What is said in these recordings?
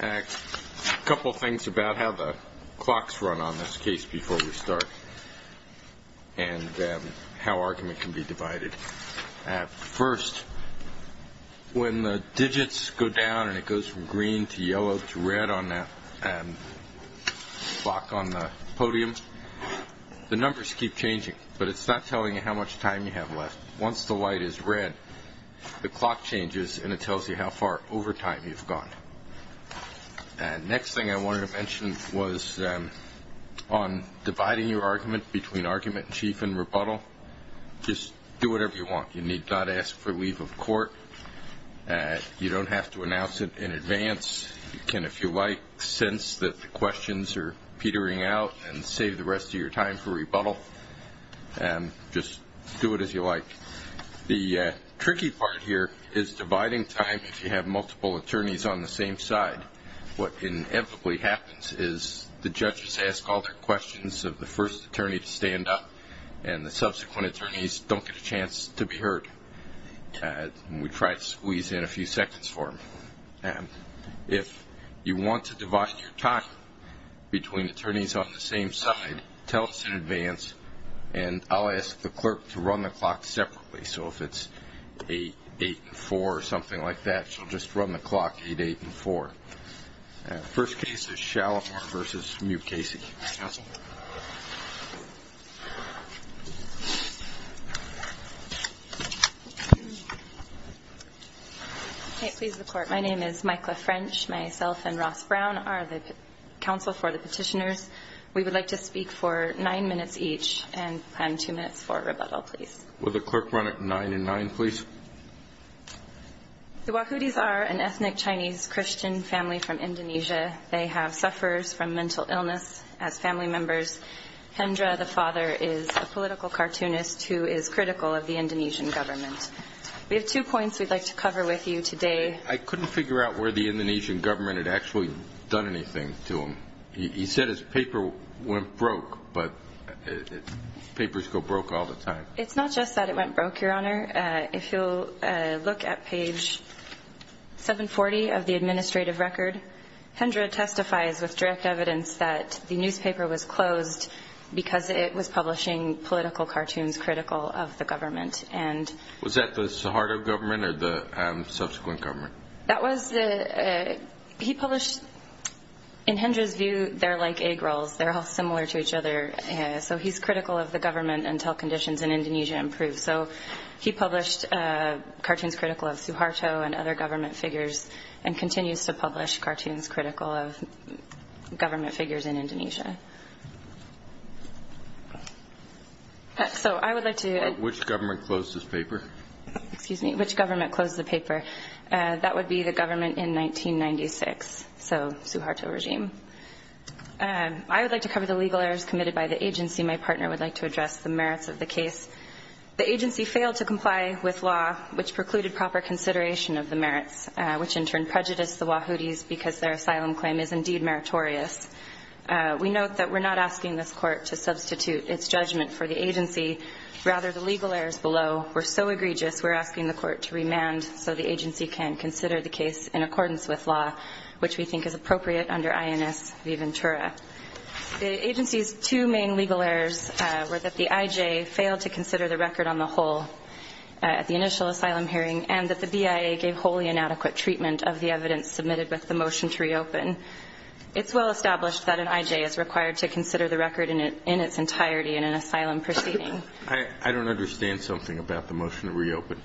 A couple of things about how the clocks run on this case before we start, and how argument can be divided. First, when the digits go down and it goes from green to yellow to red on the clock on the podium, the numbers keep changing, but it's not telling you how much time you have left. Once the light is red, the clock changes and it tells you how far over time you've gone. The next thing I wanted to mention was on dividing your argument between argument in chief and rebuttal. Just do whatever you want. You need not ask for leave of court. You don't have to announce it in advance. You can, if you like, sense that the questions are petering out and save the rest of your time for rebuttal. Just do it as you like. The tricky part here is dividing time if you have multiple attorneys on the same side. What inevitably happens is the judges ask all their questions of the first attorney to stand up, and the subsequent attorneys don't get a chance to be heard. We try to squeeze in a few seconds for them. If you want to divide your time between attorneys on the same side, tell us in advance, and I'll ask the clerk to run the clock separately, so if it's 8-8-4 or something like that, she'll just run the clock 8-8-4. First case is Shalimar v. Mucasey. My name is Michaela French. Myself and Ross Brown are the counsel for the petitioners. We would like to speak for nine minutes each and plan two minutes for rebuttal, please. Will the clerk run it 9-9, please? The Wahoodies are an ethnic Chinese Christian family from Indonesia. They have sufferers from mental illness as family members. Hendra, the father, is a political cartoonist who is critical of the Indonesian government. We have two points we'd like to cover with you today. I couldn't figure out where the Indonesian government had actually done anything to him. He said his paper went broke, but papers go broke all the time. It's not just that it went broke, Your Honor. If you'll look at page 740 of the administrative record, Hendra testifies with direct evidence that the newspaper was closed because it was publishing political cartoons critical of the government. Was that the Suharto government or the subsequent government? That was the... He published... In Hendra's view, they're like egg rolls. They're all similar to each other. So he's critical of the government until conditions in Indonesia improve. So he published cartoons critical of Suharto and other government figures and continues to publish cartoons critical of government figures in Indonesia. So I would like to... Which government closed his paper? Excuse me. Which government closed the paper? That would be the government in 1996, so Suharto regime. I would like to cover the legal errors committed by the agency. My partner would like to address the merits of the case. The agency failed to comply with law, which precluded proper consideration of the merits, which in turn prejudiced the Wahoodies because their asylum claim is indeed meritorious. We note that we're not asking this court to substitute its judgment for the agency. Rather, the legal errors below were so egregious, we're asking the court to remand so the agency can consider the case in accordance with law, which we think is appropriate under INS Viventura. The agency's two main legal errors were that the IJ failed to consider the record on the whole at the initial asylum hearing and that the BIA gave wholly inadequate treatment of the evidence submitted with the motion to reopen. It's well established that an IJ is required to consider the record in its entirety in an asylum proceeding. I don't understand something about the motion to reopen.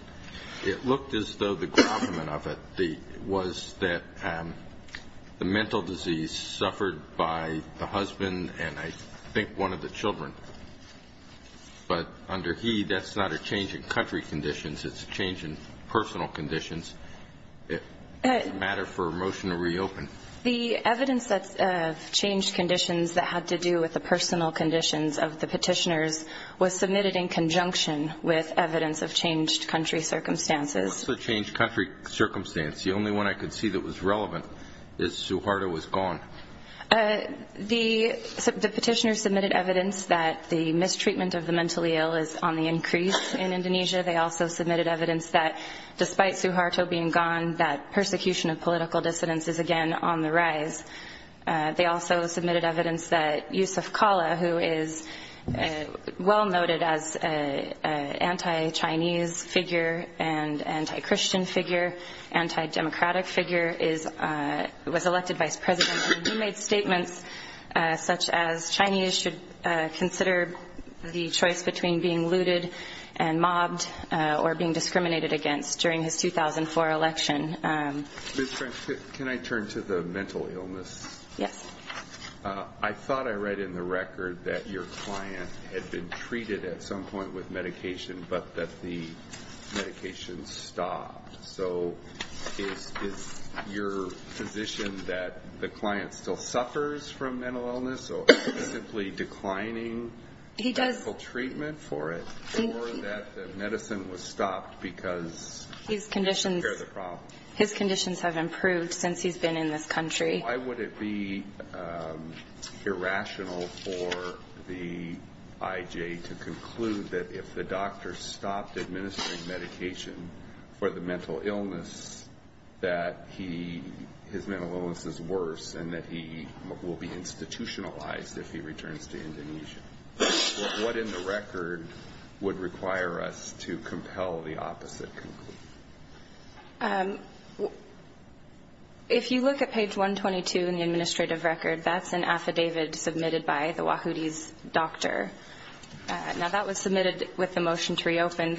It looked as though the grommet of it was that the mental disease suffered by the husband and I think one of the children, but under he, that's not a change in country conditions, it's a change in personal conditions. It doesn't matter for a motion to reopen. The evidence that changed conditions that had to do with the personal conditions of the petitioners was submitted in conjunction with evidence of changed country circumstances. What's the changed country circumstance? The only one I could see that was relevant is Suharto was gone. The petitioners submitted evidence that the mistreatment of the mentally ill is on the increase in Indonesia. They also submitted evidence that despite Suharto being gone, that persecution of political dissidents is again on the rise. They also submitted evidence that Yusuf Kala, who is well noted as an anti-Chinese figure and anti-Christian figure, anti-democratic figure, was elected vice president. He made statements such as Chinese should consider the choice between being looted and mobbed or being discriminated against during his 2004 election. Ms. French, can I turn to the mental illness? Yes. I thought I read in the record that your client had been treated at some point with medication but that the medication stopped. So is your position that the client still suffers from mental illness or is he simply declining medical treatment for it or that the medicine was stopped because he didn't care about the problem? His conditions have improved since he's been in this country. Why would it be irrational for the IJ to conclude that if the doctor stopped administering medication for the mental illness that his mental illness is worse and that he will be institutionalized if he returns to Indonesia? What in the record would require us to compel the opposite conclusion? If you look at page 122 in the administrative record, that's an affidavit submitted by the Wahoodies doctor. Now that was submitted with the motion to reopen.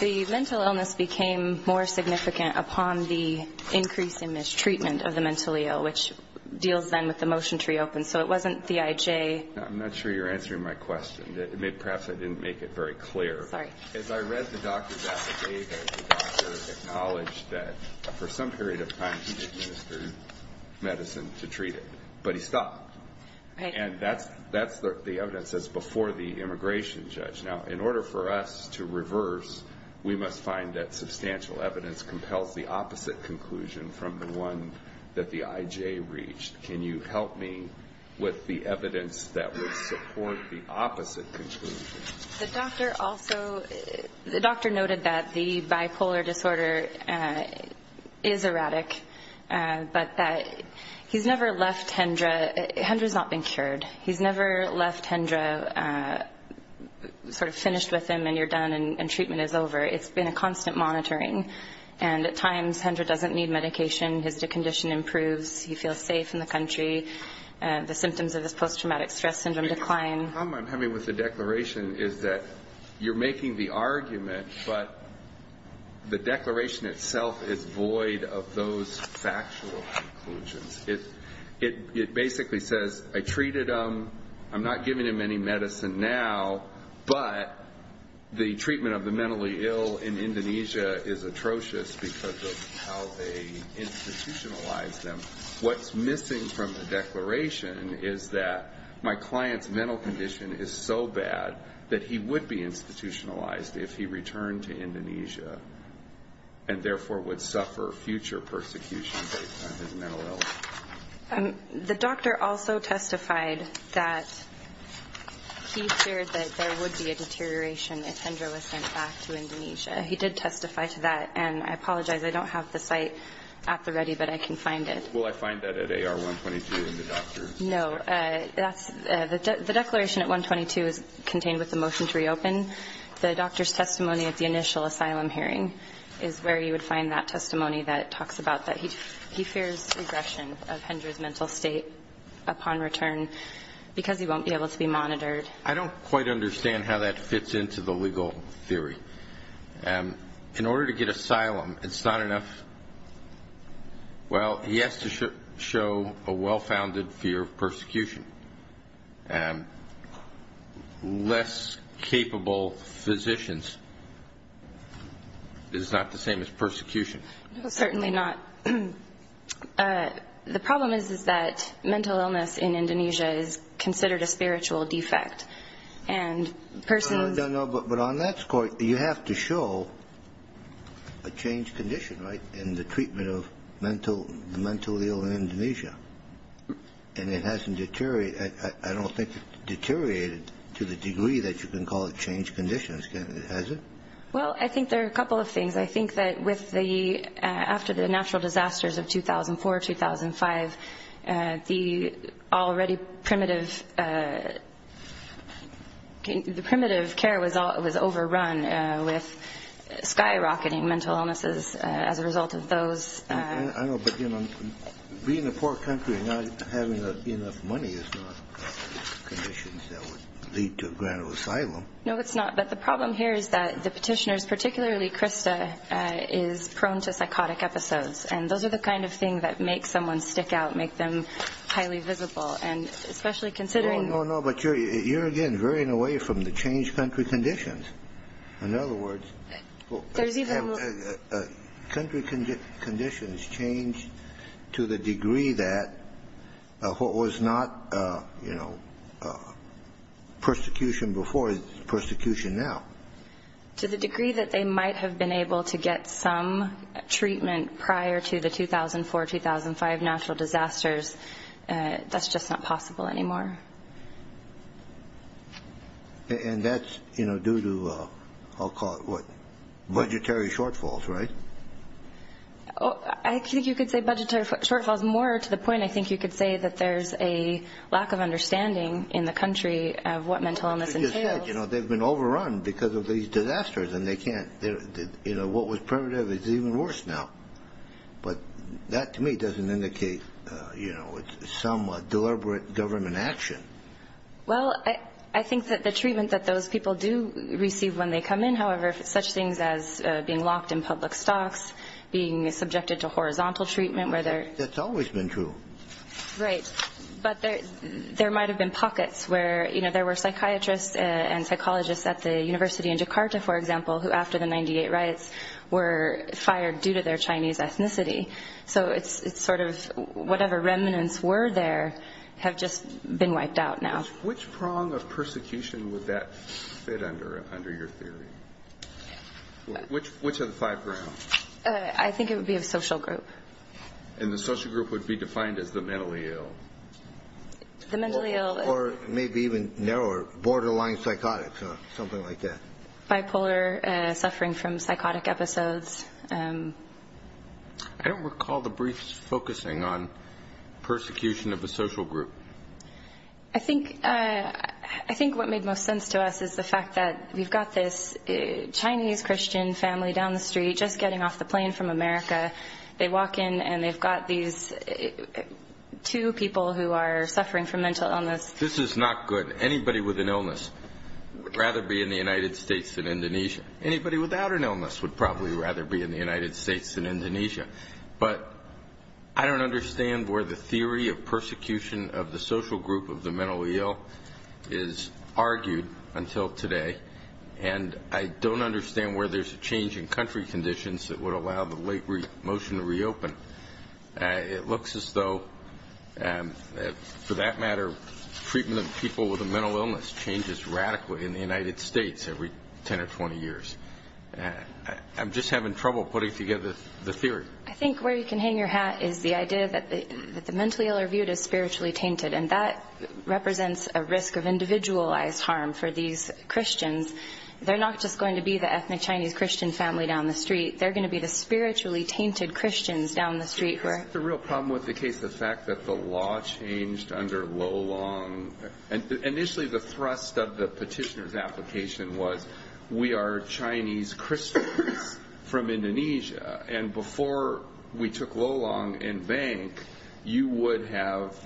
The mental illness became more significant upon the increase in mistreatment of the mentally ill, which deals then with the motion to reopen. So it wasn't the IJ. I'm not sure you're answering my question. Perhaps I didn't make it very clear. Sorry. As I read the doctor's affidavit, the doctor acknowledged that for some period of time he did administer medicine to treat it, but he stopped. And that's the evidence that's before the immigration judge. Now in order for us to reverse, we must find that substantial evidence compels the opposite conclusion from the one that the IJ reached. Can you help me with the evidence that would support the opposite conclusion? The doctor also, the doctor noted that the bipolar disorder is erratic, but that he's never left Hendra. Hendra's not been cured. He's never left Hendra sort of finished with him and you're done and treatment is over. It's been a constant monitoring. And at times Hendra doesn't need medication. His condition improves. He feels safe in the country. The symptoms of his post-traumatic stress syndrome decline. The problem I'm having with the declaration is that you're making the argument, but the declaration itself is void of those factual conclusions. It basically says I treated him. I'm not giving him any medicine now, but the treatment of the mentally ill in Indonesia is atrocious because of how they institutionalize them. What's missing from the declaration is that my client's mental condition is so bad that he would be institutionalized if he returned to Indonesia and therefore would suffer future persecution based on his mental illness. The doctor also testified that he feared that there would be a deterioration if Hendra was sent back to Indonesia. He did testify to that and I apologize, I don't have the site at the ready, but I can find it. Will I find that at AR 122 in the doctor's? No. The declaration at 122 is contained with the motion to reopen. The doctor's testimony at the initial asylum hearing is where you would find that testimony that talks about that he fears regression of Hendra's mental state upon return because he won't be able to be monitored. I don't quite understand how that fits into the legal theory. In order to get asylum it's not enough. Well, he has to show a well-founded fear of persecution. Less capable physicians is not the same as persecution. Certainly not. The problem is that mental illness in Indonesia is considered a spiritual defect and persons... But on that score, you have to show a changed condition, right, in the treatment of the mental ill in Indonesia. And it hasn't deteriorated, I don't think it's deteriorated to the degree that you can call it changed conditions. Has it? Well, I think there are a couple of things. I think that with the, after the natural disasters of 2004, 2005, the already primitive, the primitive care was that there was no longer was overrun with skyrocketing mental illnesses as a result of those. I know, but you know, being in a poor country and not having enough money is not conditions that would lead to a grant of asylum. No, it's not. But the problem here is that the petitioners, particularly Krista, is prone to psychotic episodes. And those are the kind of thing that make someone stick out, make them highly visible. And especially considering... No, no, but you're, again, veering away from the changed country conditions. In other words... There's even... Country conditions changed to the degree that what was not, you know, persecution before is persecution now. To the degree that they might have been able to get some treatment prior to the 2004, 2005 natural disasters, that's just not possible anymore. And that's, you know, due to, I'll call it, what, budgetary shortfalls, right? I think you could say budgetary shortfalls. More to the point, I think you could say that there's a lack of understanding in the country of what mental illness entails. You know, they've been overrun because of these disasters and they can't, you know, what was primitive is even worse now. But that, to me, doesn't indicate, you know, some deliberate government action. Well, I think that the treatment that those people do receive when they come in, however, such things as being locked in public stocks, being subjected to horizontal treatment where they're... That's always been true. Right. But there might have been pockets where, you know, there were psychiatrists and psychologists at the university in Jakarta, for example, who after the 98 riots were fired due to their Chinese ethnicity. So it's sort of whatever remnants were there have just been wiped out now. Which prong of persecution would that fit under, under your theory? Which of the five grounds? I think it would be a social group. And the social group would be defined as the mentally ill? The mentally ill... Or maybe even narrower, borderline psychotic or something like that. Bipolar, suffering from psychotic episodes. I don't recall the briefs focusing on persecution of a social group. I think, I think what made most sense to us is the fact that we've got this Chinese Christian family down the street just getting off the plane from America. They walk in and they've got these two people who are suffering from mental illness. This is not good. Anybody with an illness would rather be in the United States than Indonesia. Anybody without an illness would probably rather be in the United States than Indonesia. But I don't understand where the theory of persecution of the social group of the mentally ill is argued until today. And I don't understand where there's a change in country conditions that would allow the late motion to reopen. It looks as though, for that matter, treatment of people with a mental illness changes radically in the United States every 10 or 20 years. I'm just having trouble putting together the theory. I think where you can hang your hat is the idea that the mentally ill are viewed as spiritually tainted and that represents a risk of individualized harm for these Christians. They're not just going to be the ethnic Chinese Christian family down the street. They're going to be the spiritually tainted Christians down the street. Is that the real problem with the case, the fact that the law changed under Lolong? Initially the thrust of the petitioner's application was, we are Chinese Christians from Indonesia. And before we took Lolong in bank, you would have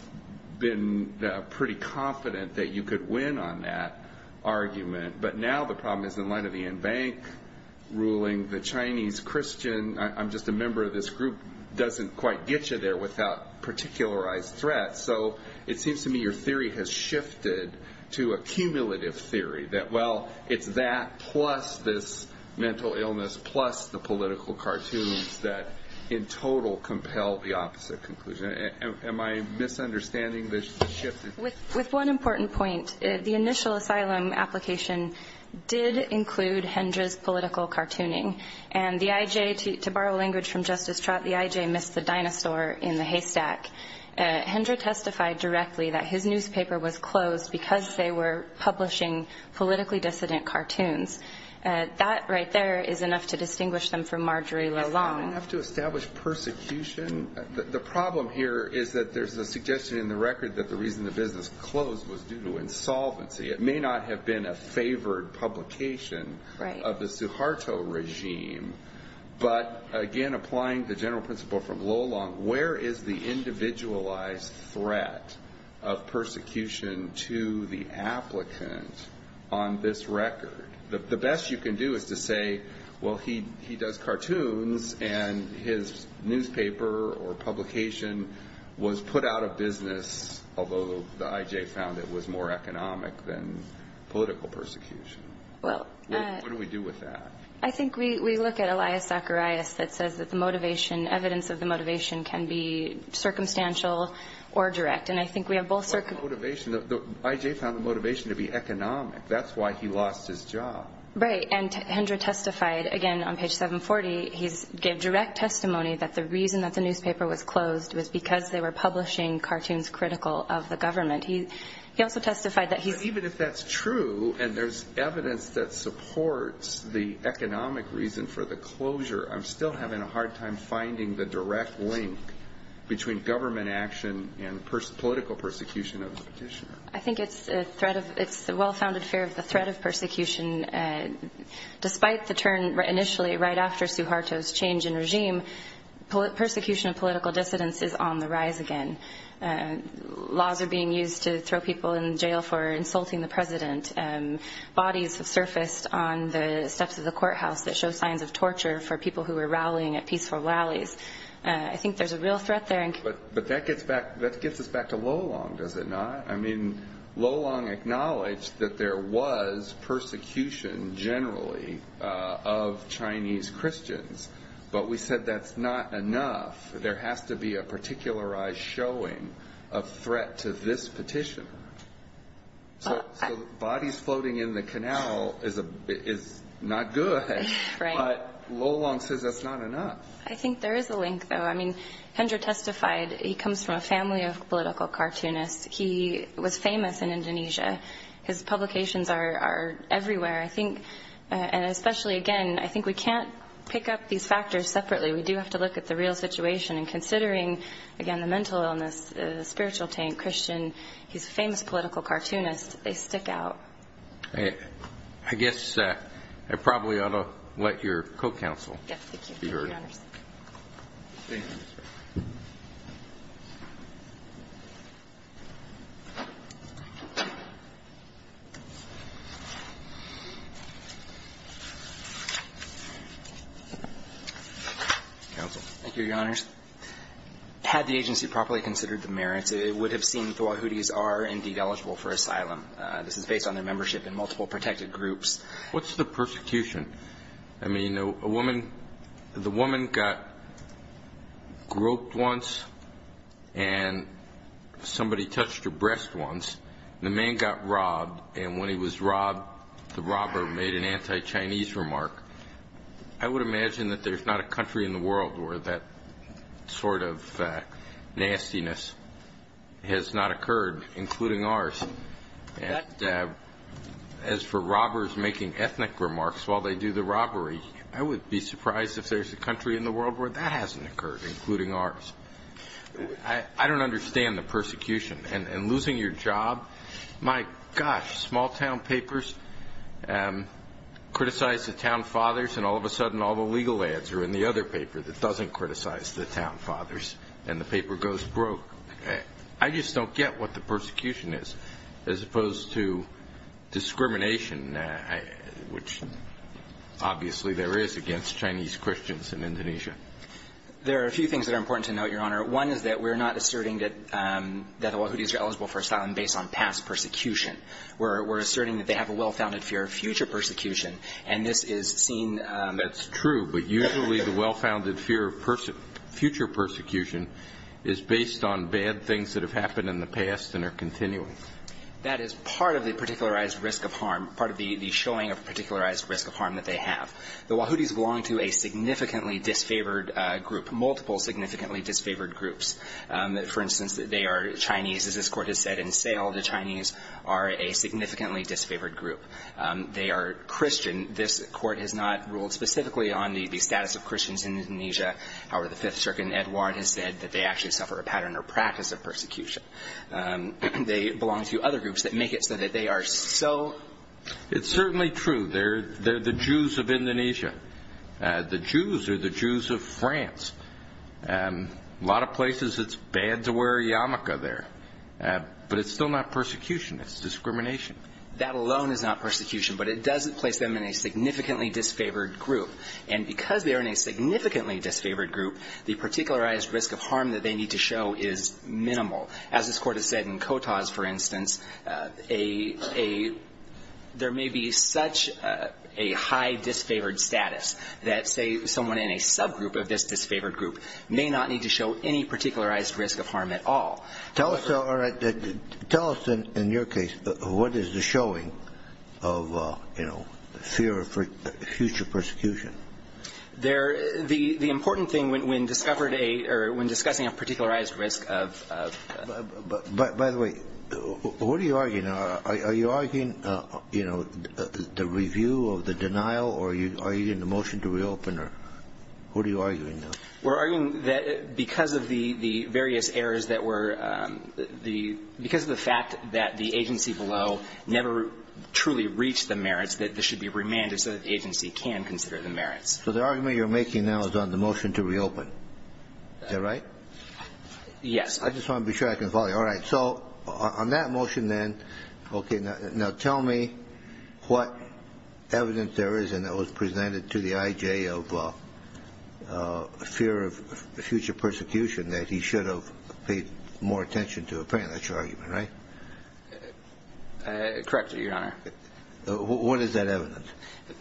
been pretty confident that you could win on that argument. But now the problem is in light of the in-bank ruling, the Chinese Christian, I'm just a member of this group, doesn't quite get you there without particularized threat. So it seems to me your theory has shifted to a cumulative theory that, well, it's that plus this mental illness plus the political cartoons that in total compel the opposite conclusion. Am I misunderstanding the shift? With one important point, the initial asylum application did include Hendra's political cartooning. And the IJ, to borrow language from Justice Trott, the IJ missed the dinosaur in the haystack. Hendra testified directly that his newspaper was closed because they were publishing politically dissident cartoons. That right there is enough to distinguish them from Marjorie Lolong. Is that enough to establish persecution? The problem here is that there's a suggestion in the record that the reason the business closed was due to insolvency. It may not have been a favored publication of the Suharto regime. But again, applying the general principle from Lolong, where is the individualized threat of persecution to the applicant on this record? The best you can do is to say, well, he does cartoons and his newspaper or publication was put out of business, although the IJ found it was more economic than political persecution. What do we do with that? I think we look at Elias Zacharias that says that the motivation, evidence of the motivation can be circumstantial or direct. And I think we have both circumstantial. The IJ found the motivation to be economic. That's why he lost his job. Right. And Hendra testified again on page 740. He gave direct testimony that the reason that the newspaper was closed was because they were publishing cartoons critical of the government. He also testified that he's But even if that's true and there's evidence that supports the economic reason for the closure, I'm still having a hard time finding the direct link between government action and political persecution of the petitioner. I think it's a threat of, it's the well-founded fear of the threat of persecution. Despite the turn initially right after Suharto's change in regime, persecution of political dissidents is on the rise again. Laws are being used to throw people in jail for insulting the president. Bodies have surfaced on the steps of the courthouse that show signs of torture for people who were rallying at peaceful rallies. I think there's a real threat there. But that gets us back to Lolong, does it not? I mean, Lolong acknowledged that there was persecution generally of Chinese Christians, but we said that's not enough. There has to be a particularized showing of threat to this petitioner. So bodies floating in the canal is not good, but Lolong says that's not enough. I think there is a link, though. I mean, Hendra testified, he comes from a family of political cartoonists. He was famous in Indonesia. His publications are everywhere. I think, and especially again, I think we can't pick up these factors separately. We do have to look at the real situation. And considering, again, the mental illness, the spiritual taint, Christian, he's a famous political cartoonist. They stick out. I guess I probably ought to let your co-counsel be heard. Thank you, Your Honors. Had the agency properly considered the merits, it would have seen the Wahoodies are indeed eligible for asylum. This is based on their membership in multiple protected groups. What's the persecution? I mean, a woman, the woman got groped once, and some of her friends, somebody touched her breast once, and the man got robbed. And when he was robbed, the robber made an anti-Chinese remark. I would imagine that there's not a country in the world where that sort of nastiness has not occurred, including ours. And as for robbers making ethnic remarks while they do the robbery, I would be surprised if there's a country in the world where that hasn't occurred, including ours. I don't understand the persecution. And losing your job, my gosh, small-town papers criticize the town fathers, and all of a sudden all the legal ads are in the other paper that doesn't criticize the town fathers, and the paper goes broke. I just don't get what the persecution is, as opposed to discrimination, which obviously there is against Chinese Christians in Indonesia. There are a few things that are important to note, Your Honor. One is that we're not asserting that the Wahoodies are eligible for asylum based on past persecution. We're asserting that they have a well-founded fear of future persecution, and this is seen as an issue. That's true, but usually the well-founded fear of future persecution is based on bad things that have happened in the past and are continuing. That is part of the particularized risk of harm, part of the showing of a particularized risk of harm that they have. The Wahoodies belong to a significantly disfavored group, multiple significantly disfavored groups. For instance, they are Chinese. As this Court has said in Sale, the Chinese are a significantly disfavored group. They are Christian. This Court has not ruled specifically on the status of Christians in Indonesia. However, the Fifth Circuit in Edward has said that they actually suffer a pattern or practice of persecution. They belong to other groups that make it so that they are so... They're the Jews of Indonesia. The Jews are the Jews of France. A lot of places it's bad to wear a yarmulke there, but it's still not persecution. It's discrimination. That alone is not persecution, but it does place them in a significantly disfavored group, and because they are in a significantly disfavored group, the particularized risk of harm that they need to show is minimal. As this Court has said in Kotas, for instance, there may be such a high disfavored status that, say, someone in a subgroup of this disfavored group may not need to show any particularized risk of harm at all. Tell us, in your case, what is the showing of, you know, fear of future persecution? The important thing when discussing a particularized risk of... But, by the way, what are you arguing? Are you arguing, you know, the review of the denial, or are you getting a motion to reopen, or what are you arguing? We're arguing that because of the various errors that were the... because of the fact that the agency below never truly reached the merits, that this should be remanded so that the agency can consider the merits. So the argument you're making now is on the motion to reopen. Is that right? Yes. I just want to be sure I can follow you. All right. So on that motion, then, okay, now tell me what evidence there is, and that was presented to the IJ of fear of future persecution, that he should have paid more attention to a pre-initial argument, right? Correctly, Your Honor. What is that evidence?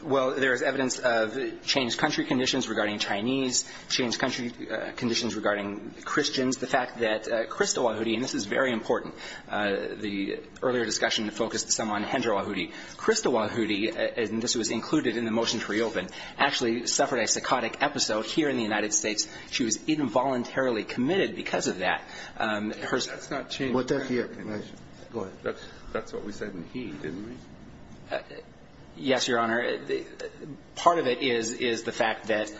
Well, there is evidence of changed country conditions regarding Chinese, changed country conditions regarding Christians. The fact that Krista Wahoody, and this is very important, the earlier discussion focused some on Hendra Wahoody. Krista Wahoody, and this was included in the motion to reopen, actually suffered a psychotic episode here in the United States. She was involuntarily committed because of that. That's not changed. Go ahead. That's what we said in he, didn't we? Yes, Your Honor. Part of it is the fact that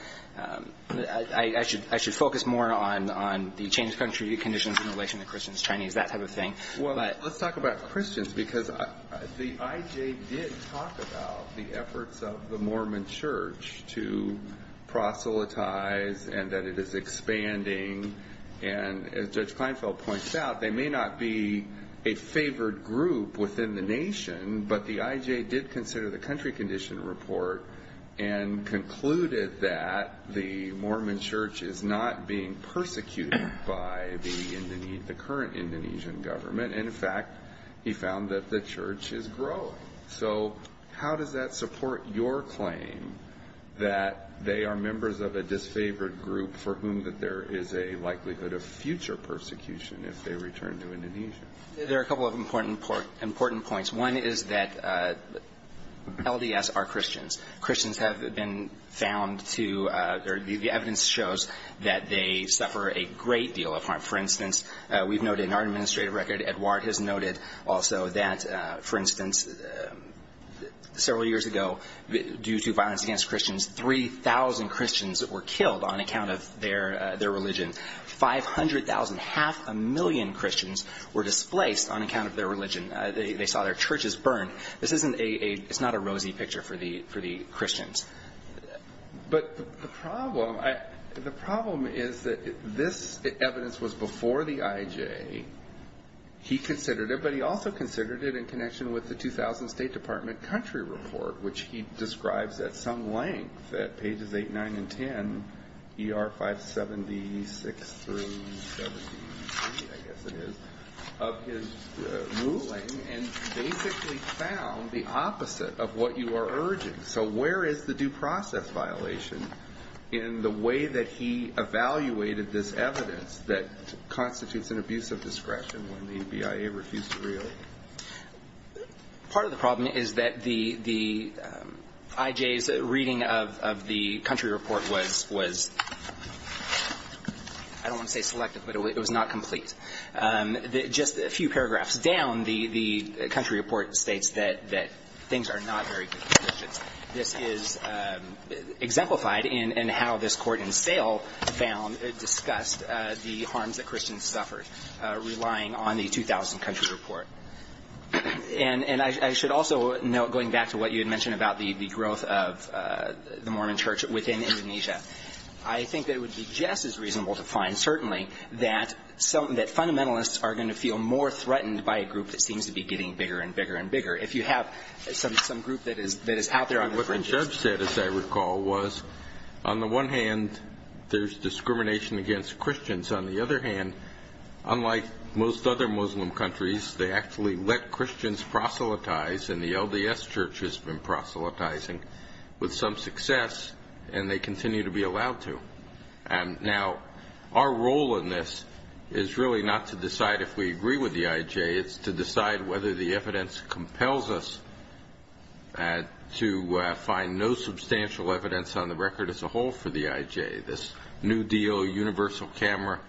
I should focus more on the changed country conditions in relation to Christians, Chinese, that type of thing. Well, let's talk about Christians because the IJ did talk about the efforts of the Mormon Church to proselytize and that it is expanding. And as Judge Kleinfeld points out, they may not be a favored group within the IJ, but they did consider the country condition report and concluded that the Mormon Church is not being persecuted by the current Indonesian government. And, in fact, he found that the church is growing. So how does that support your claim that they are members of a disfavored group for whom there is a likelihood of future persecution if they return to Indonesia? There are a couple of important points. One is that LDS are Christians. Christians have been found to or the evidence shows that they suffer a great deal of harm. For instance, we've noted in our administrative record, Edward has noted also that, for instance, several years ago, due to violence against Christians, 3,000 Christians were killed on account of their religion. 500,000, half a million Christians were displaced on account of their religion. They saw their churches burn. This isn't a rosy picture for the Christians. But the problem is that this evidence was before the IJ. He considered it, but he also considered it in connection with the 2000 State Department which he describes at some length at pages 8, 9, and 10, ER 576 through 73, I guess it is, of his ruling and basically found the opposite of what you are urging. So where is the due process violation in the way that he evaluated this evidence that constitutes an abuse of discretion when the BIA refused to reopen? Part of the problem is that the IJ's reading of the country report was, I don't want to say selective, but it was not complete. Just a few paragraphs down, the country report states that things are not very good for Christians. This is exemplified in how this court in sale found, discussed the harms that Christians suffered relying on the 2000 country report. And I should also note, going back to what you had mentioned about the growth of the Mormon church within Indonesia, I think that it would be just as reasonable to find, certainly, that fundamentalists are going to feel more threatened by a group that seems to be getting bigger and bigger and bigger. If you have some group that is out there on the fringes. What I have said, as I recall, was, on the one hand, there is discrimination against Christians. On the other hand, unlike most other Muslim countries, they actually let Christians proselytize, and the LDS church has been proselytizing with some success, and they continue to be allowed to. Now, our role in this is really not to decide if we agree with the IJ. It's to decide whether the evidence compels us to find no substantial evidence on the record as a whole for the IJ. This new deal, universal camera,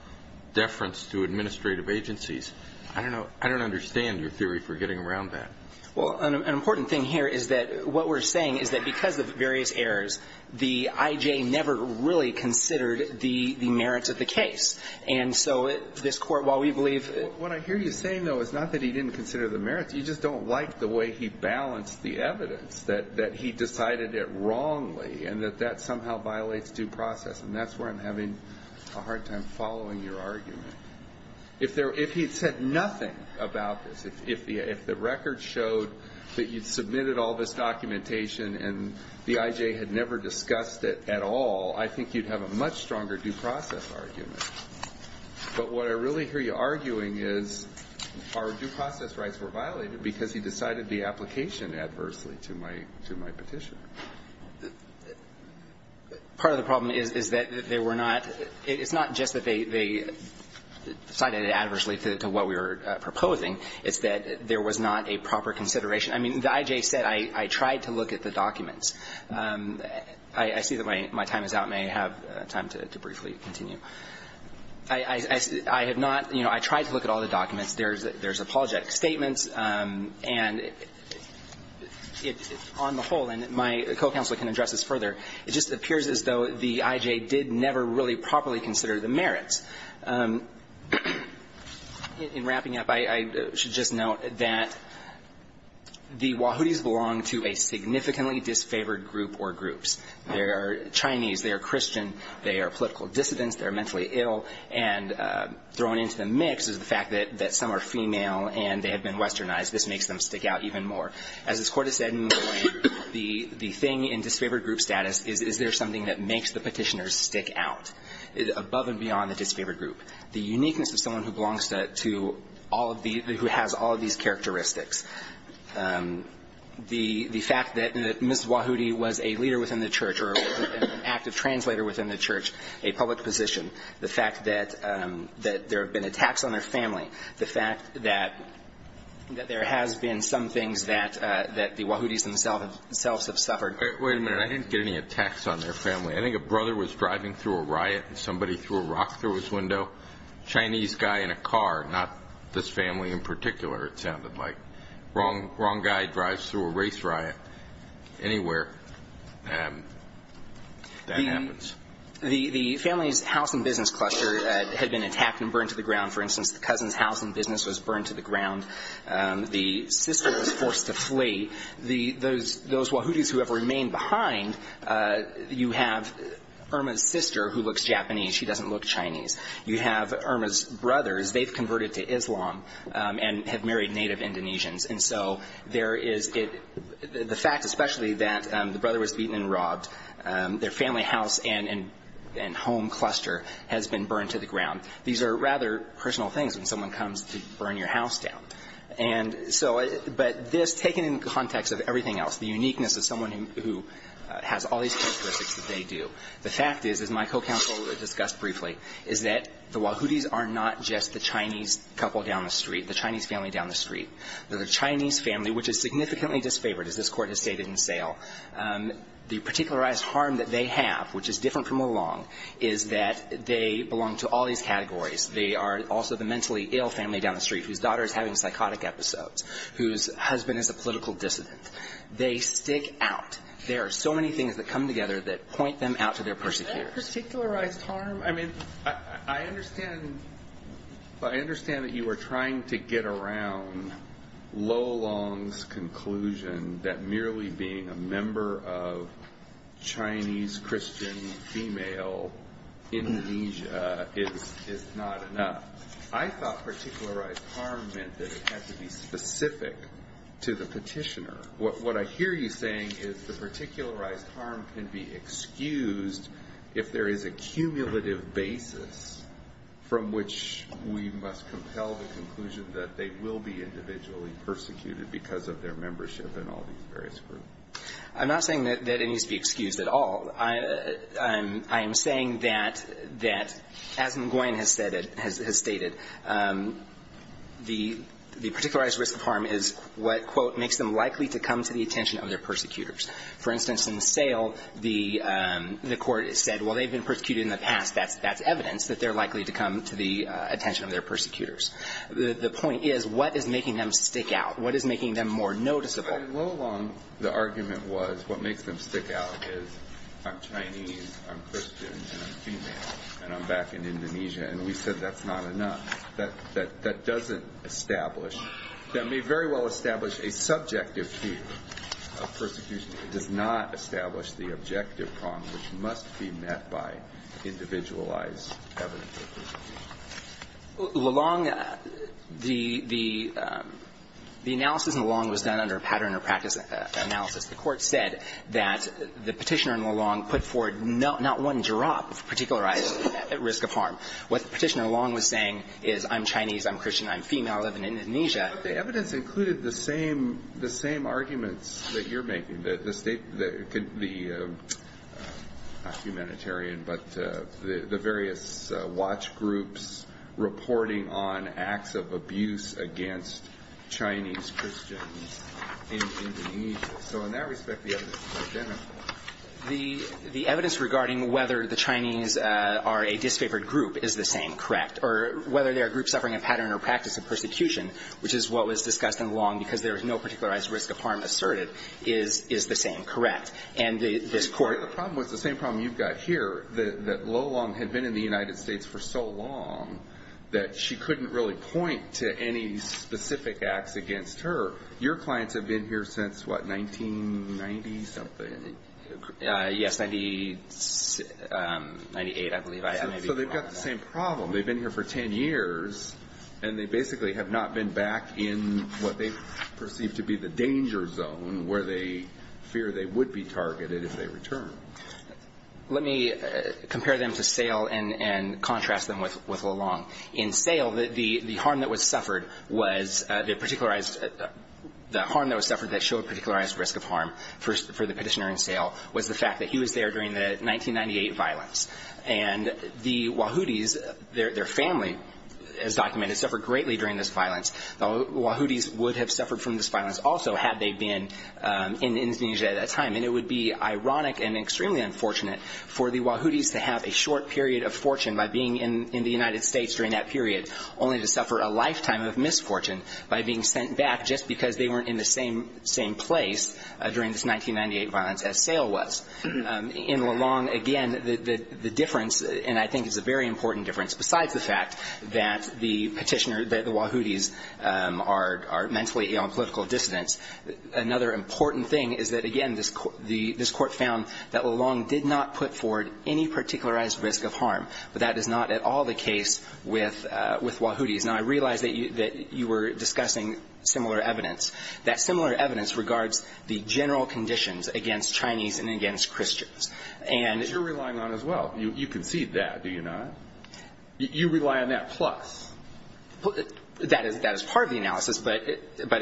deference to administrative agencies. I don't know. I don't understand your theory for getting around that. Well, an important thing here is that what we're saying is that because of various errors, the IJ never really considered the merits of the case. What I hear you saying, though, is not that he didn't consider the merits. You just don't like the way he balanced the evidence that he decided it wrongly and that that somehow violates due process, and that's where I'm having a hard time following your argument. If he had said nothing about this, if the record showed that you submitted all this documentation and the IJ had never discussed it at all, I think you'd have a much stronger due process argument. But what I really hear you arguing is our due process rights were violated because he decided the application adversely to my petition. Part of the problem is that there were not – it's not just that they decided it adversely to what we were proposing. It's that there was not a proper consideration. I mean, the IJ said, I tried to look at the documents. I see that my time is out, and I have time to briefly continue. I have not – you know, I tried to look at all the documents. There's apologetic statements, and on the whole, and my co-counsel can address this further, it just appears as though the IJ did never really properly consider the merits. In wrapping up, I should just note that the Wahoos belong to a significantly disfavored group or groups. They are Chinese. They are Christian. They are political dissidents. They are mentally ill. And thrown into the mix is the fact that some are female, and they have been westernized. This makes them stick out even more. As this Court has said, the thing in disfavored group status is, is there something that makes the petitioners stick out? Above and beyond the disfavored group. The uniqueness of someone who belongs to all of these – who has all of these characteristics. The fact that Ms. Wahoody was a leader within the church or was an active translator within the church, a public position. The fact that there have been attacks on their family. The fact that there has been some things that the Wahoodies themselves have suffered. Wait a minute. I didn't get any attacks on their family. I think a brother was driving through a riot and somebody threw a rock through his window. Chinese guy in a car, not this family in particular, it sounded like. Wrong guy drives through a race riot anywhere. That happens. The family's house and business cluster had been attacked and burned to the ground. For instance, the cousin's house and business was burned to the ground. The sister was forced to flee. Those Wahoodies who have remained behind, you have Irma's sister who looks Japanese. She doesn't look Chinese. You have Irma's brothers. They've converted to Islam and have married native Indonesians. And so there is – the fact especially that the brother was beaten and robbed, their family house and home cluster has been burned to the ground. These are rather personal things when someone comes to burn your house down. And so – but this, taken in context of everything else, the uniqueness of someone who has all these characteristics that they do, the fact is, as my co-counsel discussed briefly, is that the Wahoodies are not just the Chinese couple down the street, the Chinese family down the street. They're the Chinese family, which is significantly disfavored, as this Court has stated in Sale. The particularized harm that they have, which is different from Olong, is that they belong to all these categories. They are also the mentally ill family down the street whose daughter is having psychotic episodes, whose husband is a political dissident. They stick out. There are so many things that come together that point them out to their persecutors. Is that a particularized harm? I mean, I understand – I understand that you are trying to get around Lolong's conclusion that merely being a member of Chinese, Christian, female Indonesia is not enough. I thought particularized harm meant that it had to be specific to the petitioner. What I hear you saying is the particularized harm can be excused if there is a cumulative basis from which we must compel the conclusion that they will be individually persecuted because of their membership in all these various groups. I'm not saying that it needs to be excused at all. I am saying that, as Nguyen has stated, the particularized risk of harm is what, quote, makes them likely to come to the attention of their persecutors. For instance, in Sale, the Court said, well, they've been persecuted in the past. That's evidence that they're likely to come to the attention of their persecutors. The point is what is making them stick out? What is making them more noticeable? In Lolong, the argument was what makes them stick out is I'm Chinese, I'm Christian, and I'm female, and I'm back in Indonesia. And we said that's not enough. That doesn't establish – that may very well establish a subjective fear of persecution. It does not establish the objective prong which must be met by individualized evidence of persecution. Lelong, the analysis in Lelong was done under a pattern or practice analysis. The Court said that the Petitioner in Lelong put forward not one drop of particularized risk of harm. What the Petitioner in Lelong was saying is I'm Chinese, I'm Christian, I'm female, I live in Indonesia. But the evidence included the same – the same arguments that you're making, the – not humanitarian, but the various watch groups reporting on acts of abuse against Chinese Christians in Indonesia. So in that respect, the evidence is identical. The evidence regarding whether the Chinese are a disfavored group is the same, correct, or whether they are a group suffering a pattern or practice of persecution, which is what was discussed in Lelong because there is no particularized risk of harm asserted, is the same, correct. And the – this Court – But the problem was the same problem you've got here, that Lelong had been in the United States for so long that she couldn't really point to any specific acts against her. Your clients have been here since, what, 1990-something? Yes, 98, I believe. So they've got the same problem. They've been here for 10 years, and they basically have not been back in what they perceive to be the danger zone where they fear they would be targeted if they return. Let me compare them to Sale and contrast them with Lelong. In Sale, the harm that was suffered was the particularized – the harm that was suffered that showed particularized risk of harm for the petitioner in Sale was the fact that he was there during the 1998 violence. And the Wahhudis, their family is documented, suffered greatly during this violence. The Wahhudis would have suffered from this violence also had they been in Indonesia at that time. And it would be ironic and extremely unfortunate for the Wahhudis to have a short period of fortune by being in the United States during that period, only to suffer a lifetime of misfortune by being sent back just because they weren't in the same place during this 1998 violence as Sale was. In Lelong, again, the difference – and I think it's a very important difference besides the fact that the petitioner, the Wahhudis, are mentally ill and political dissidents. Another important thing is that, again, this Court found that Lelong did not put forward any particularized risk of harm. But that is not at all the case with Wahhudis. Now, I realize that you were discussing similar evidence. That similar evidence regards the general conditions against Chinese and against Christians. And you're relying on it as well. You concede that, do you not? You rely on that plus. That is part of the analysis. But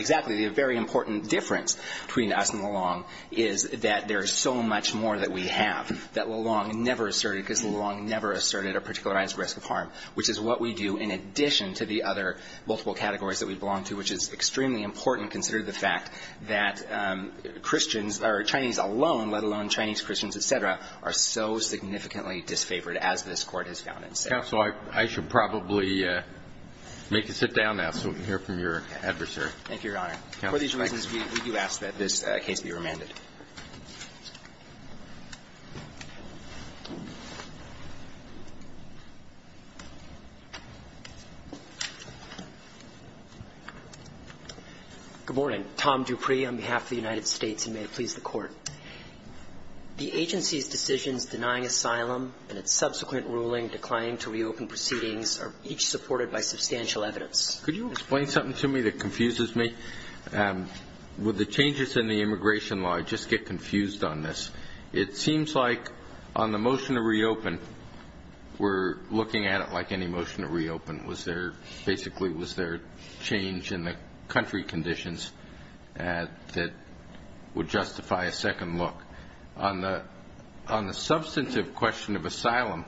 exactly. The very important difference between us and Lelong is that there is so much more that we have that Lelong never asserted, because Lelong never asserted a particularized risk of harm, which is what we do in addition to the other multiple categories that we belong to, which is extremely important considering the fact that Christians or Chinese alone, let alone Chinese Christians, et cetera, are so significantly disfavored as this Court has found it. Counsel, I should probably make you sit down now so we can hear from your adversary. Thank you, Your Honor. For these reasons, we do ask that this case be remanded. Good morning. Tom Dupree on behalf of the United States, and may it please the Court. The agency's decisions denying asylum and its subsequent ruling declining to reopen proceedings are each supported by substantial evidence. Could you explain something to me that confuses me? With the changes in the immigration law, I just get confused on this. It seems like on the motion to reopen, we're looking at it like any motion to reopen. Basically, it was their change in the country conditions that would justify a second look. On the substantive question of asylum,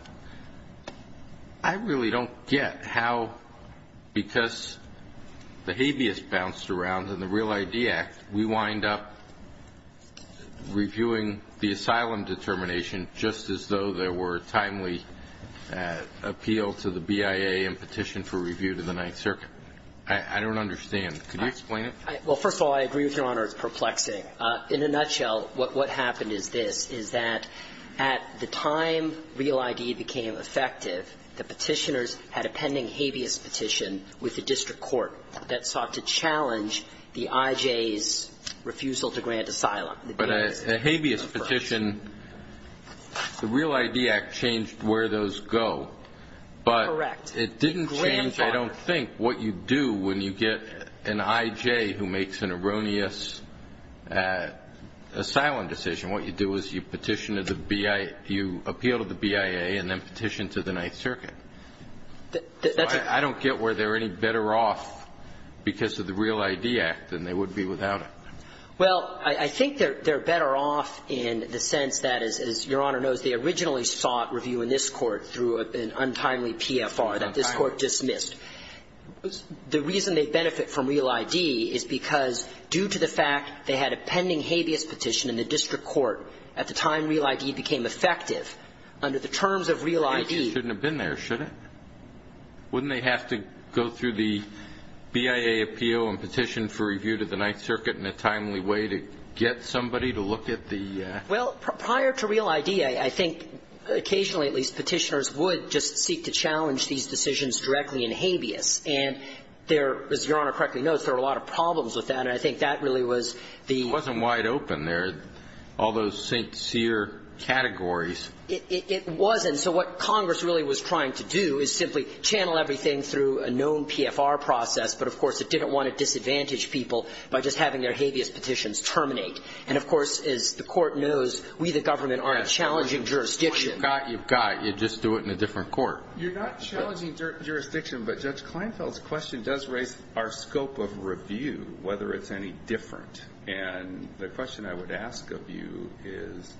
I really don't get how, because the habeas bounced around in the REAL-ID Act, we wind up reviewing the asylum determination just as though there to the Ninth Circuit. I don't understand. Could you explain it? Well, first of all, I agree with Your Honor, it's perplexing. In a nutshell, what happened is this, is that at the time REAL-ID became effective, the petitioners had a pending habeas petition with the district court that sought to challenge the IJ's refusal to grant asylum. But a habeas petition, the REAL-ID Act changed where those go. Correct. It didn't change, I don't think, what you do when you get an IJ who makes an erroneous asylum decision. What you do is you petition to the BIA, you appeal to the BIA and then petition to the Ninth Circuit. I don't get where they're any better off because of the REAL-ID Act than they would be without it. Well, I think they're better off in the sense that, as Your Honor knows, they originally sought review in this Court through an untimely PFR that this Court dismissed. The reason they benefit from REAL-ID is because due to the fact they had a pending habeas petition in the district court at the time REAL-ID became effective, under the terms of REAL-ID. It shouldn't have been there, should it? Wouldn't they have to go through the BIA appeal and petition for review to the Ninth Circuit in a timely way to get somebody to look at the act? Well, prior to REAL-ID, I think occasionally, at least, petitioners would just seek to challenge these decisions directly in habeas. And there, as Your Honor correctly knows, there are a lot of problems with that. And I think that really was the ---- It wasn't wide open there, all those sincere categories. It wasn't. So what Congress really was trying to do is simply channel everything through a known PFR process. But, of course, it didn't want to disadvantage people by just having their habeas petitions terminate. And, of course, as the Court knows, we, the government, are a challenging jurisdiction. Well, you've got it. You've got it. You just do it in a different court. You're not challenging jurisdiction, but Judge Kleinfeld's question does raise our scope of review, whether it's any different. And the question I would ask of you is,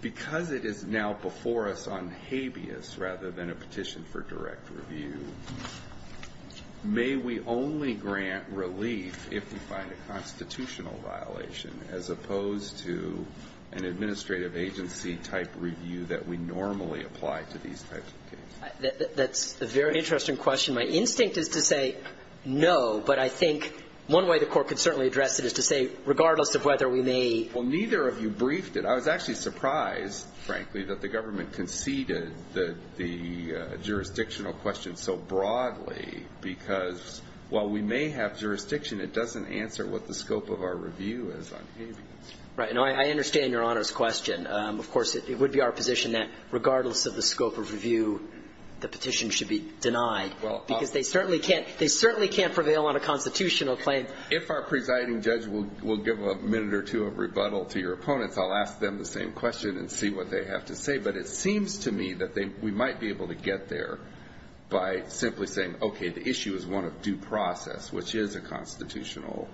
because it is now before us on habeas rather than a petition for direct review, may we only grant relief if we find a constitutional violation, as opposed to an administrative agency-type review that we normally apply to these types of cases? That's a very interesting question. My instinct is to say no, but I think one way the Court could certainly address it is to say, regardless of whether we may ---- Well, neither of you briefed it. I was actually surprised, frankly, that the government conceded the jurisdictional question so broadly, because while we may have jurisdiction, it doesn't answer what the scope of our review is on habeas. Right. No, I understand Your Honor's question. Of course, it would be our position that regardless of the scope of review, the petition should be denied, because they certainly can't prevail on a constitutional claim. If our presiding judge will give a minute or two of rebuttal to your opponents, I'll ask them the same question and see what they have to say. But it seems to me that we might be able to get there by simply saying, okay, the constitutional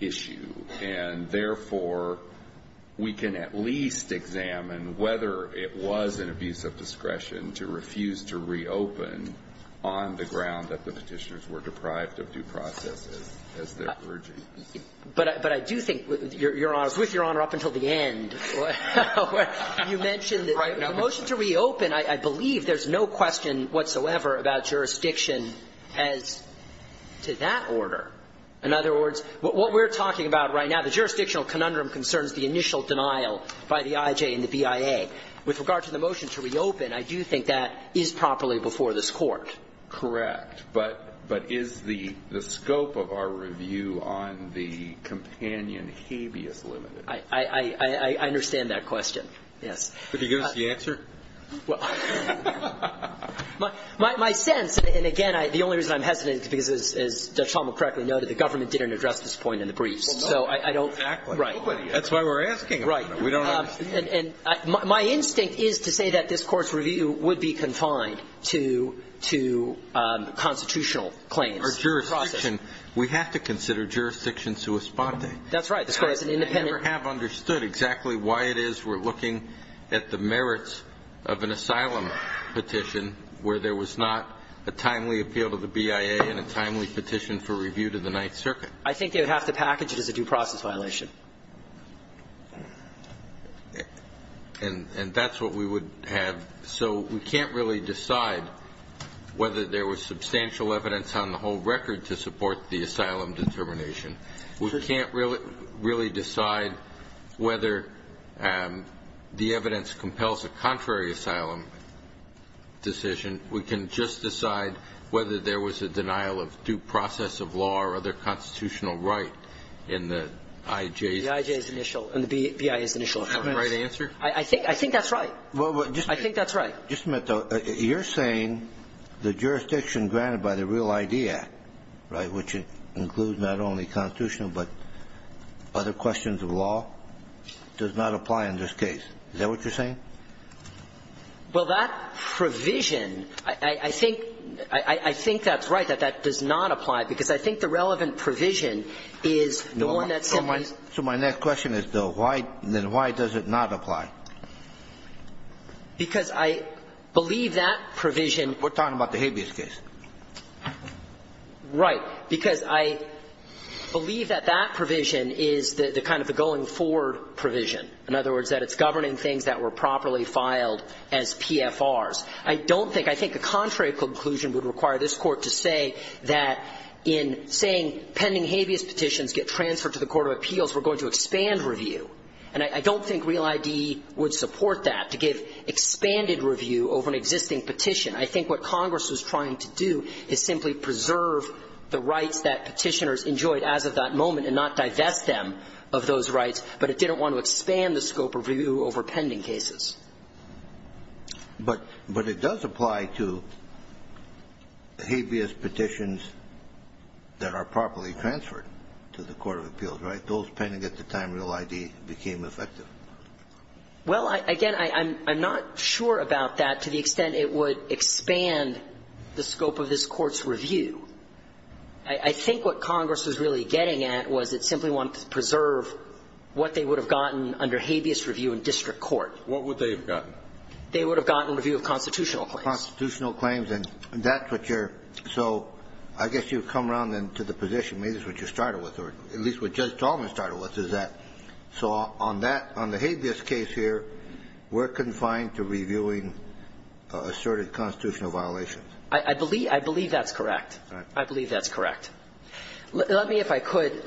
issue. And therefore, we can at least examine whether it was an abuse of discretion to refuse to reopen on the ground that the Petitioners were deprived of due process as they're urging. But I do think, Your Honor, with Your Honor up until the end, you mentioned the motion to reopen, I believe there's no question whatsoever about jurisdiction as to that order. In other words, what we're talking about right now, the jurisdictional conundrum concerns the initial denial by the IJ and the BIA. With regard to the motion to reopen, I do think that is properly before this Court. Correct. But is the scope of our review on the companion habeas limited? I understand that question. Yes. Could you give us the answer? Well, my sense, and again, the only reason I'm hesitant is because, as Judge Tomlin correctly noted, the government didn't address this point in the briefs. Well, no. Exactly. Right. That's why we're asking. Right. We don't understand. And my instinct is to say that this Court's review would be confined to constitutional claims. Or jurisdiction. We have to consider jurisdiction sua sponte. That's right. This Court is an independent. We never have understood exactly why it is we're looking at the merits of an asylum petition where there was not a timely appeal to the BIA and a timely petition for review to the Ninth Circuit. I think they would have to package it as a due process violation. And that's what we would have. So we can't really decide whether there was substantial evidence on the whole record to support the asylum determination. We can't really decide whether the evidence compels a contrary asylum decision. We can just decide whether there was a denial of due process of law or other constitutional right in the IJ's. The IJ's initial and the BIA's initial. Is that the right answer? I think that's right. I think that's right. Just a minute, though. You're saying the jurisdiction granted by the Real ID Act, right, which includes not only constitutional but other questions of law, does not apply in this case. Is that what you're saying? Well, that provision, I think that's right, that that does not apply, because I think the relevant provision is the one that simply So my next question is, though, why does it not apply? Because I believe that provision We're talking about the habeas case. Right. Because I believe that that provision is the kind of the going forward provision, in other words, that it's governing things that were properly filed as PFRs. I don't think, I think a contrary conclusion would require this Court to say that in saying pending habeas petitions get transferred to the court of appeals, we're going to expand review. And I don't think Real ID would support that, to give expanded review over an existing petition. I think what Congress was trying to do is simply preserve the rights that petitioners enjoyed as of that moment and not divest them of those rights, but it didn't want to expand the scope of review over pending cases. But it does apply to habeas petitions that are properly transferred to the court of appeals, right? Those pending at the time Real ID became effective. Well, again, I'm not sure about that to the extent it would expand the scope of this Court's review. I think what Congress was really getting at was it simply wanted to preserve what they would have gotten under habeas review in district court. What would they have gotten? They would have gotten review of constitutional claims. Constitutional claims. And that's what you're So I guess you come around then to the position, maybe that's what you started with, or at least what Judge Talman started with, is that so on that on the habeas case here, we're confined to reviewing asserted constitutional violations. I believe that's correct. All right. I believe that's correct. Let me, if I could,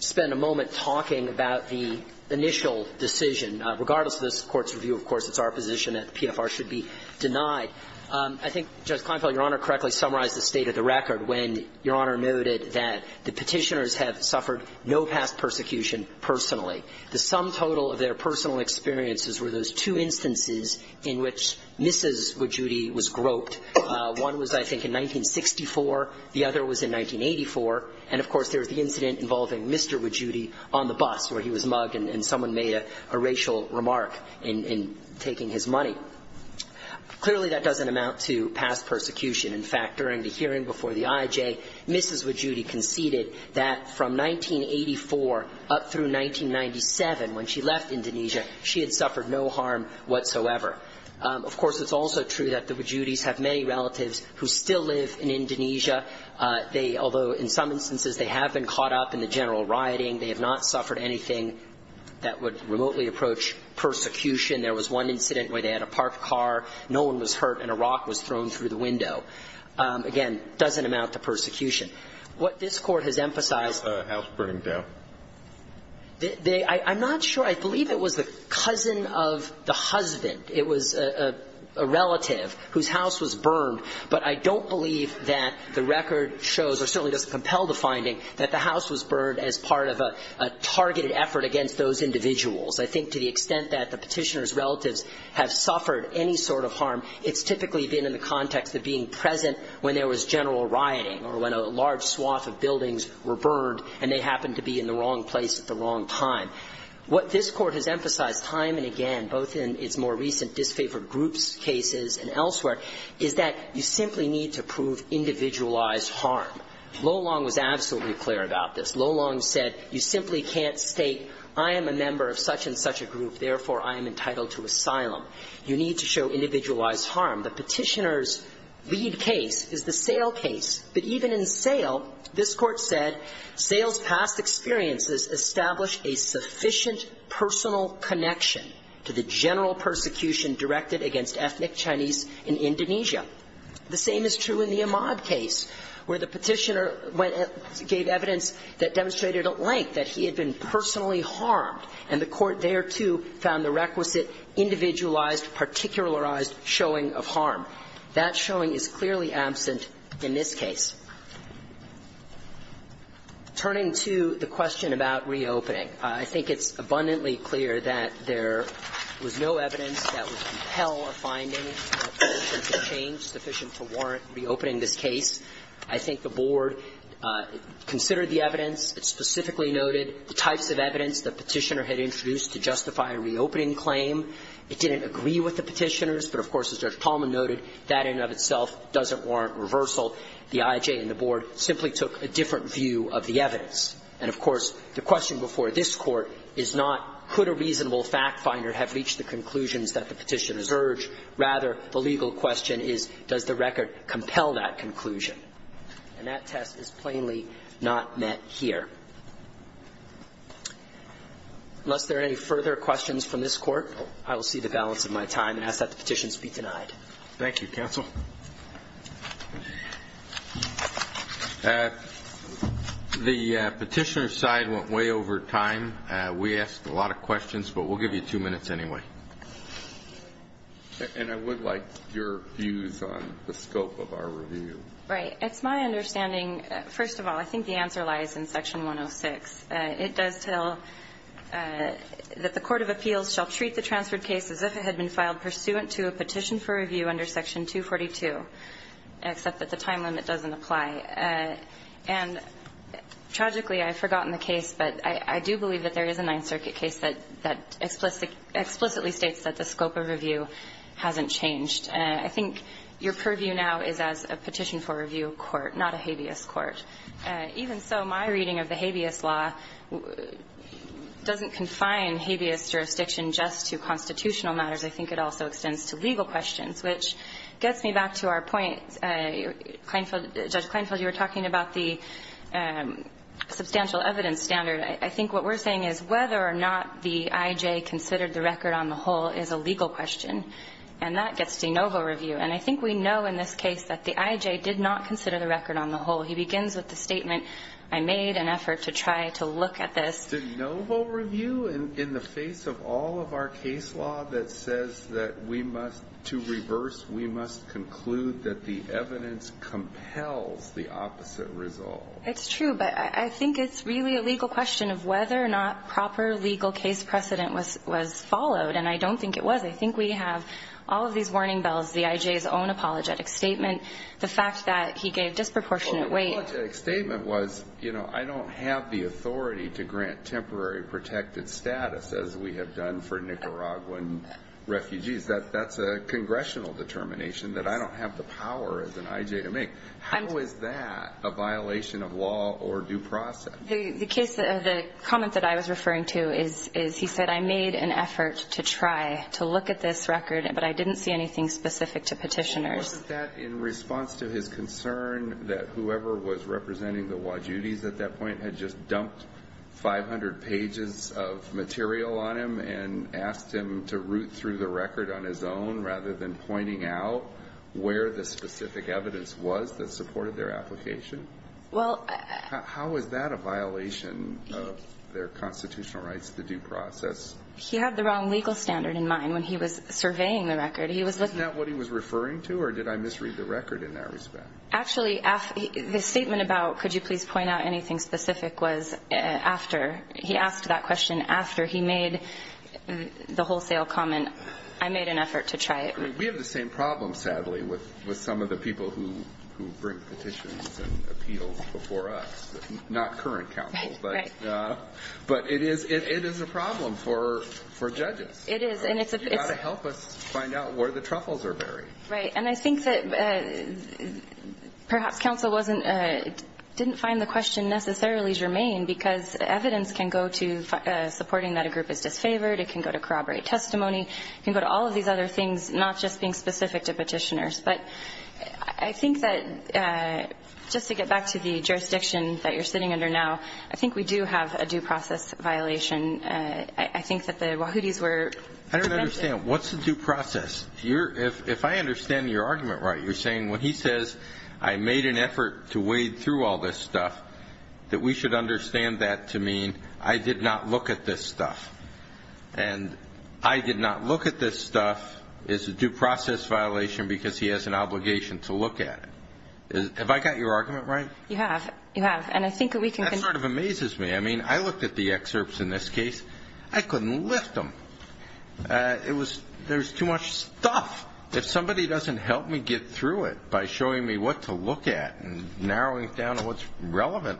spend a moment talking about the initial decision. Regardless of this Court's review, of course, it's our position that PFR should be denied. I think Judge Kleinfeld, Your Honor, correctly summarized the state of the record when Your Honor noted that the Petitioners have suffered no past persecution personally. The sum total of their personal experiences were those two instances in which Mrs. Wojudy was groped. One was, I think, in 1964. The other was in 1984. And, of course, there was the incident involving Mr. Wojudy on the bus where he was mugged and someone made a racial remark in taking his money. Clearly, that doesn't amount to past persecution. In fact, during the hearing before the IJ, Mrs. Wojudy conceded that from 1984 up through 1997, when she left Indonesia, she had suffered no harm whatsoever. Of course, it's also true that the Wojudys have many relatives who still live in Indonesia. They, although in some instances they have been caught up in the general rioting, they have not suffered anything that would remotely approach persecution. There was one incident where they had a parked car. No one was hurt and a rock was thrown through the window. Again, doesn't amount to persecution. What this Court has emphasized — The house burning down. I'm not sure. I believe it was the cousin of the husband. It was a relative whose house was burned. But I don't believe that the record shows, or certainly doesn't compel the finding, that the house was burned as part of a targeted effort against those individuals. I think to the extent that the Petitioner's relatives have suffered any sort of harm, it's typically been in the context of being present when there was general rioting or when a large swath of buildings were burned and they happened to be in the wrong place at the wrong time. What this Court has emphasized time and again, both in its more recent disfavored groups cases and elsewhere, is that you simply need to prove individualized harm. Lolong was absolutely clear about this. Lolong said, you simply can't state, I am a member of such and such a group, therefore I am entitled to asylum. You need to show individualized harm. The Petitioner's lead case is the Sale case. But even in Sale, this Court said, Sale's past experiences establish a sufficient personal connection to the general persecution directed against ethnic Chinese in Indonesia. The same is true in the Imad case, where the Petitioner went and gave evidence that demonstrated at length that he had been personally harmed. And the Court there, too, found the requisite individualized, particularized showing of harm. That showing is clearly absent in this case. Turning to the question about reopening, I think it's abundantly clear that there was no evidence that would compel a finding of sufficient change, sufficient to warrant reopening this case. I think the Board considered the evidence. It specifically noted the types of evidence the Petitioner had introduced to justify a reopening claim. It didn't agree with the Petitioners, but, of course, as Judge Tallman noted, that in and of itself doesn't warrant reversal. The IJ and the Board simply took a different view of the evidence. And, of course, the question before this Court is not, could a reasonable fact finder have reached the conclusions that the Petitioners urge. Rather, the legal question is, does the record compel that conclusion? And that test is plainly not met here. Unless there are any further questions from this Court, I will see the balance of my time and ask that the petitions be denied. Thank you, Counsel. The Petitioner side went way over time. We asked a lot of questions, but we'll give you two minutes anyway. And I would like your views on the scope of our review. Right. It's my understanding, first of all, I think the answer lies in Section 106. It does tell that the court of appeals shall treat the transferred case as if it had been filed pursuant to a petition for review under Section 242, except that the time limit doesn't apply. And, tragically, I've forgotten the case, but I do believe that there is a Ninth Circuit case that explicitly states that the scope of review hasn't changed. And I think your purview now is as a petition for review court, not a habeas court. Even so, my reading of the habeas law doesn't confine habeas jurisdiction just to constitutional matters. I think it also extends to legal questions, which gets me back to our point. Judge Kleinfeld, you were talking about the substantial evidence standard. I think what we're saying is whether or not the IJ considered the record on the whole is a legal question. And that gets de novo review. And I think we know in this case that the IJ did not consider the record on the whole. He begins with the statement, I made an effort to try to look at this. De novo review? In the face of all of our case law that says that we must, to reverse, we must conclude that the evidence compels the opposite resolve. It's true, but I think it's really a legal question of whether or not proper legal case precedent was followed. And I don't think it was. I think we have all of these warning bells, the IJ's own apologetic statement, the fact that he gave disproportionate weight. Well, the apologetic statement was, you know, I don't have the authority to grant temporary protected status as we have done for Nicaraguan refugees. That's a congressional determination that I don't have the power as an IJ to make. How is that a violation of law or due process? The comment that I was referring to is he said, I made an effort to try to look at this record, but I didn't see anything specific to Petitioner's. Wasn't that in response to his concern that whoever was representing the Wajudis at that point had just dumped 500 pages of material on him and asked him to root through the record on his own rather than pointing out where the specific evidence was that supported their application? How is that a violation of their constitutional rights, the due process? He had the wrong legal standard in mind when he was surveying the record. Isn't that what he was referring to, or did I misread the record in that respect? Actually, the statement about could you please point out anything specific was after he asked that question, after he made the wholesale comment, I made an effort to try it. We have the same problem, sadly, with some of the people who bring petitions and appeals before us, not current counsel. Right, right. But it is a problem for judges. It is. You've got to help us find out where the truffles are buried. Right. And I think that perhaps counsel didn't find the question necessarily germane because evidence can go to supporting that a group is disfavored. It can go to corroborate testimony. It can go to all of these other things, not just being specific to Petitioner's. But I think that just to get back to the jurisdiction that you're sitting under now, I think we do have a due process violation. I think that the Wahoodies were. I don't understand. What's the due process? If I understand your argument right, you're saying when he says I made an effort to wade through all this stuff, that we should understand that to mean I did not look at this stuff. And I did not look at this stuff is a due process violation because he has an obligation to look at it. Have I got your argument right? You have. You have. That sort of amazes me. I mean, I looked at the excerpts in this case. I couldn't lift them. There's too much stuff. If somebody doesn't help me get through it by showing me what to look at and narrowing it down to what's relevant,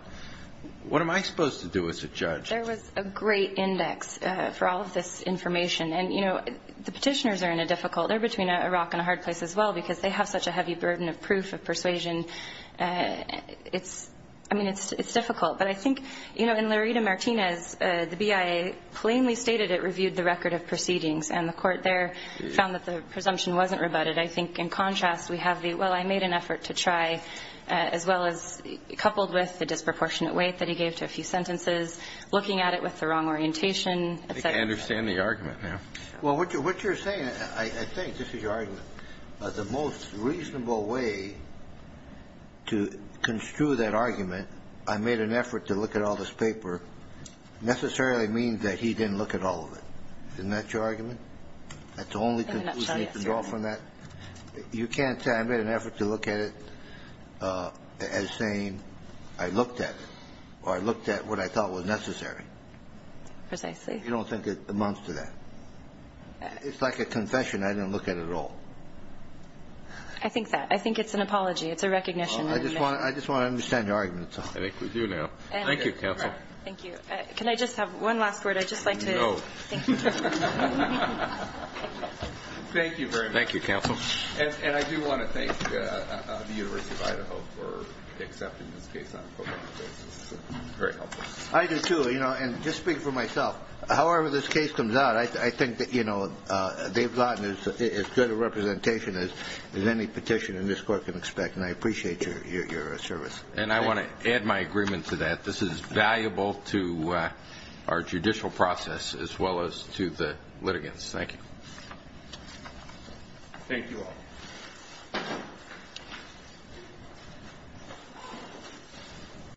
what am I supposed to do as a judge? There was a great index for all of this information. And, you know, the Petitioners are in a difficult ñ they're between a rock and a hard place as well because they have such a heavy burden of proof, of persuasion. I mean, it's difficult. But I think, you know, in Laredo-Martinez, the BIA plainly stated it reviewed the record of proceedings, and the court there found that the presumption wasn't rebutted. I think in contrast we have the, well, I made an effort to try, as well as coupled with the disproportionate weight that he gave to a few sentences, looking at it with the wrong orientation, et cetera. I think I understand the argument now. Well, what you're saying, I think, this is your argument, the most reasonable way to construe that argument, I made an effort to look at all this paper, necessarily means that he didn't look at all of it. Isn't that your argument? That's the only conclusion you can draw from that? You can't say I made an effort to look at it as saying I looked at it, or I looked at what I thought was necessary. Precisely. You don't think it amounts to that? It's like a confession, I didn't look at it at all. I think that. I think it's an apology. It's a recognition. I just want to understand your argument. I think we do now. Thank you, counsel. Thank you. Can I just have one last word? I'd just like to thank you. No. Thank you very much. Thank you, counsel. And I do want to thank the University of Idaho for accepting this case on a pro bono basis. It's very helpful. I do, too. You know, and just speaking for myself, however this case comes out, I think that, you know, Dave Lawton is as good a representation as any petition in this court can expect, and I appreciate your service. And I want to add my agreement to that. This is valuable to our judicial process as well as to the litigants. Thank you. Thank you all.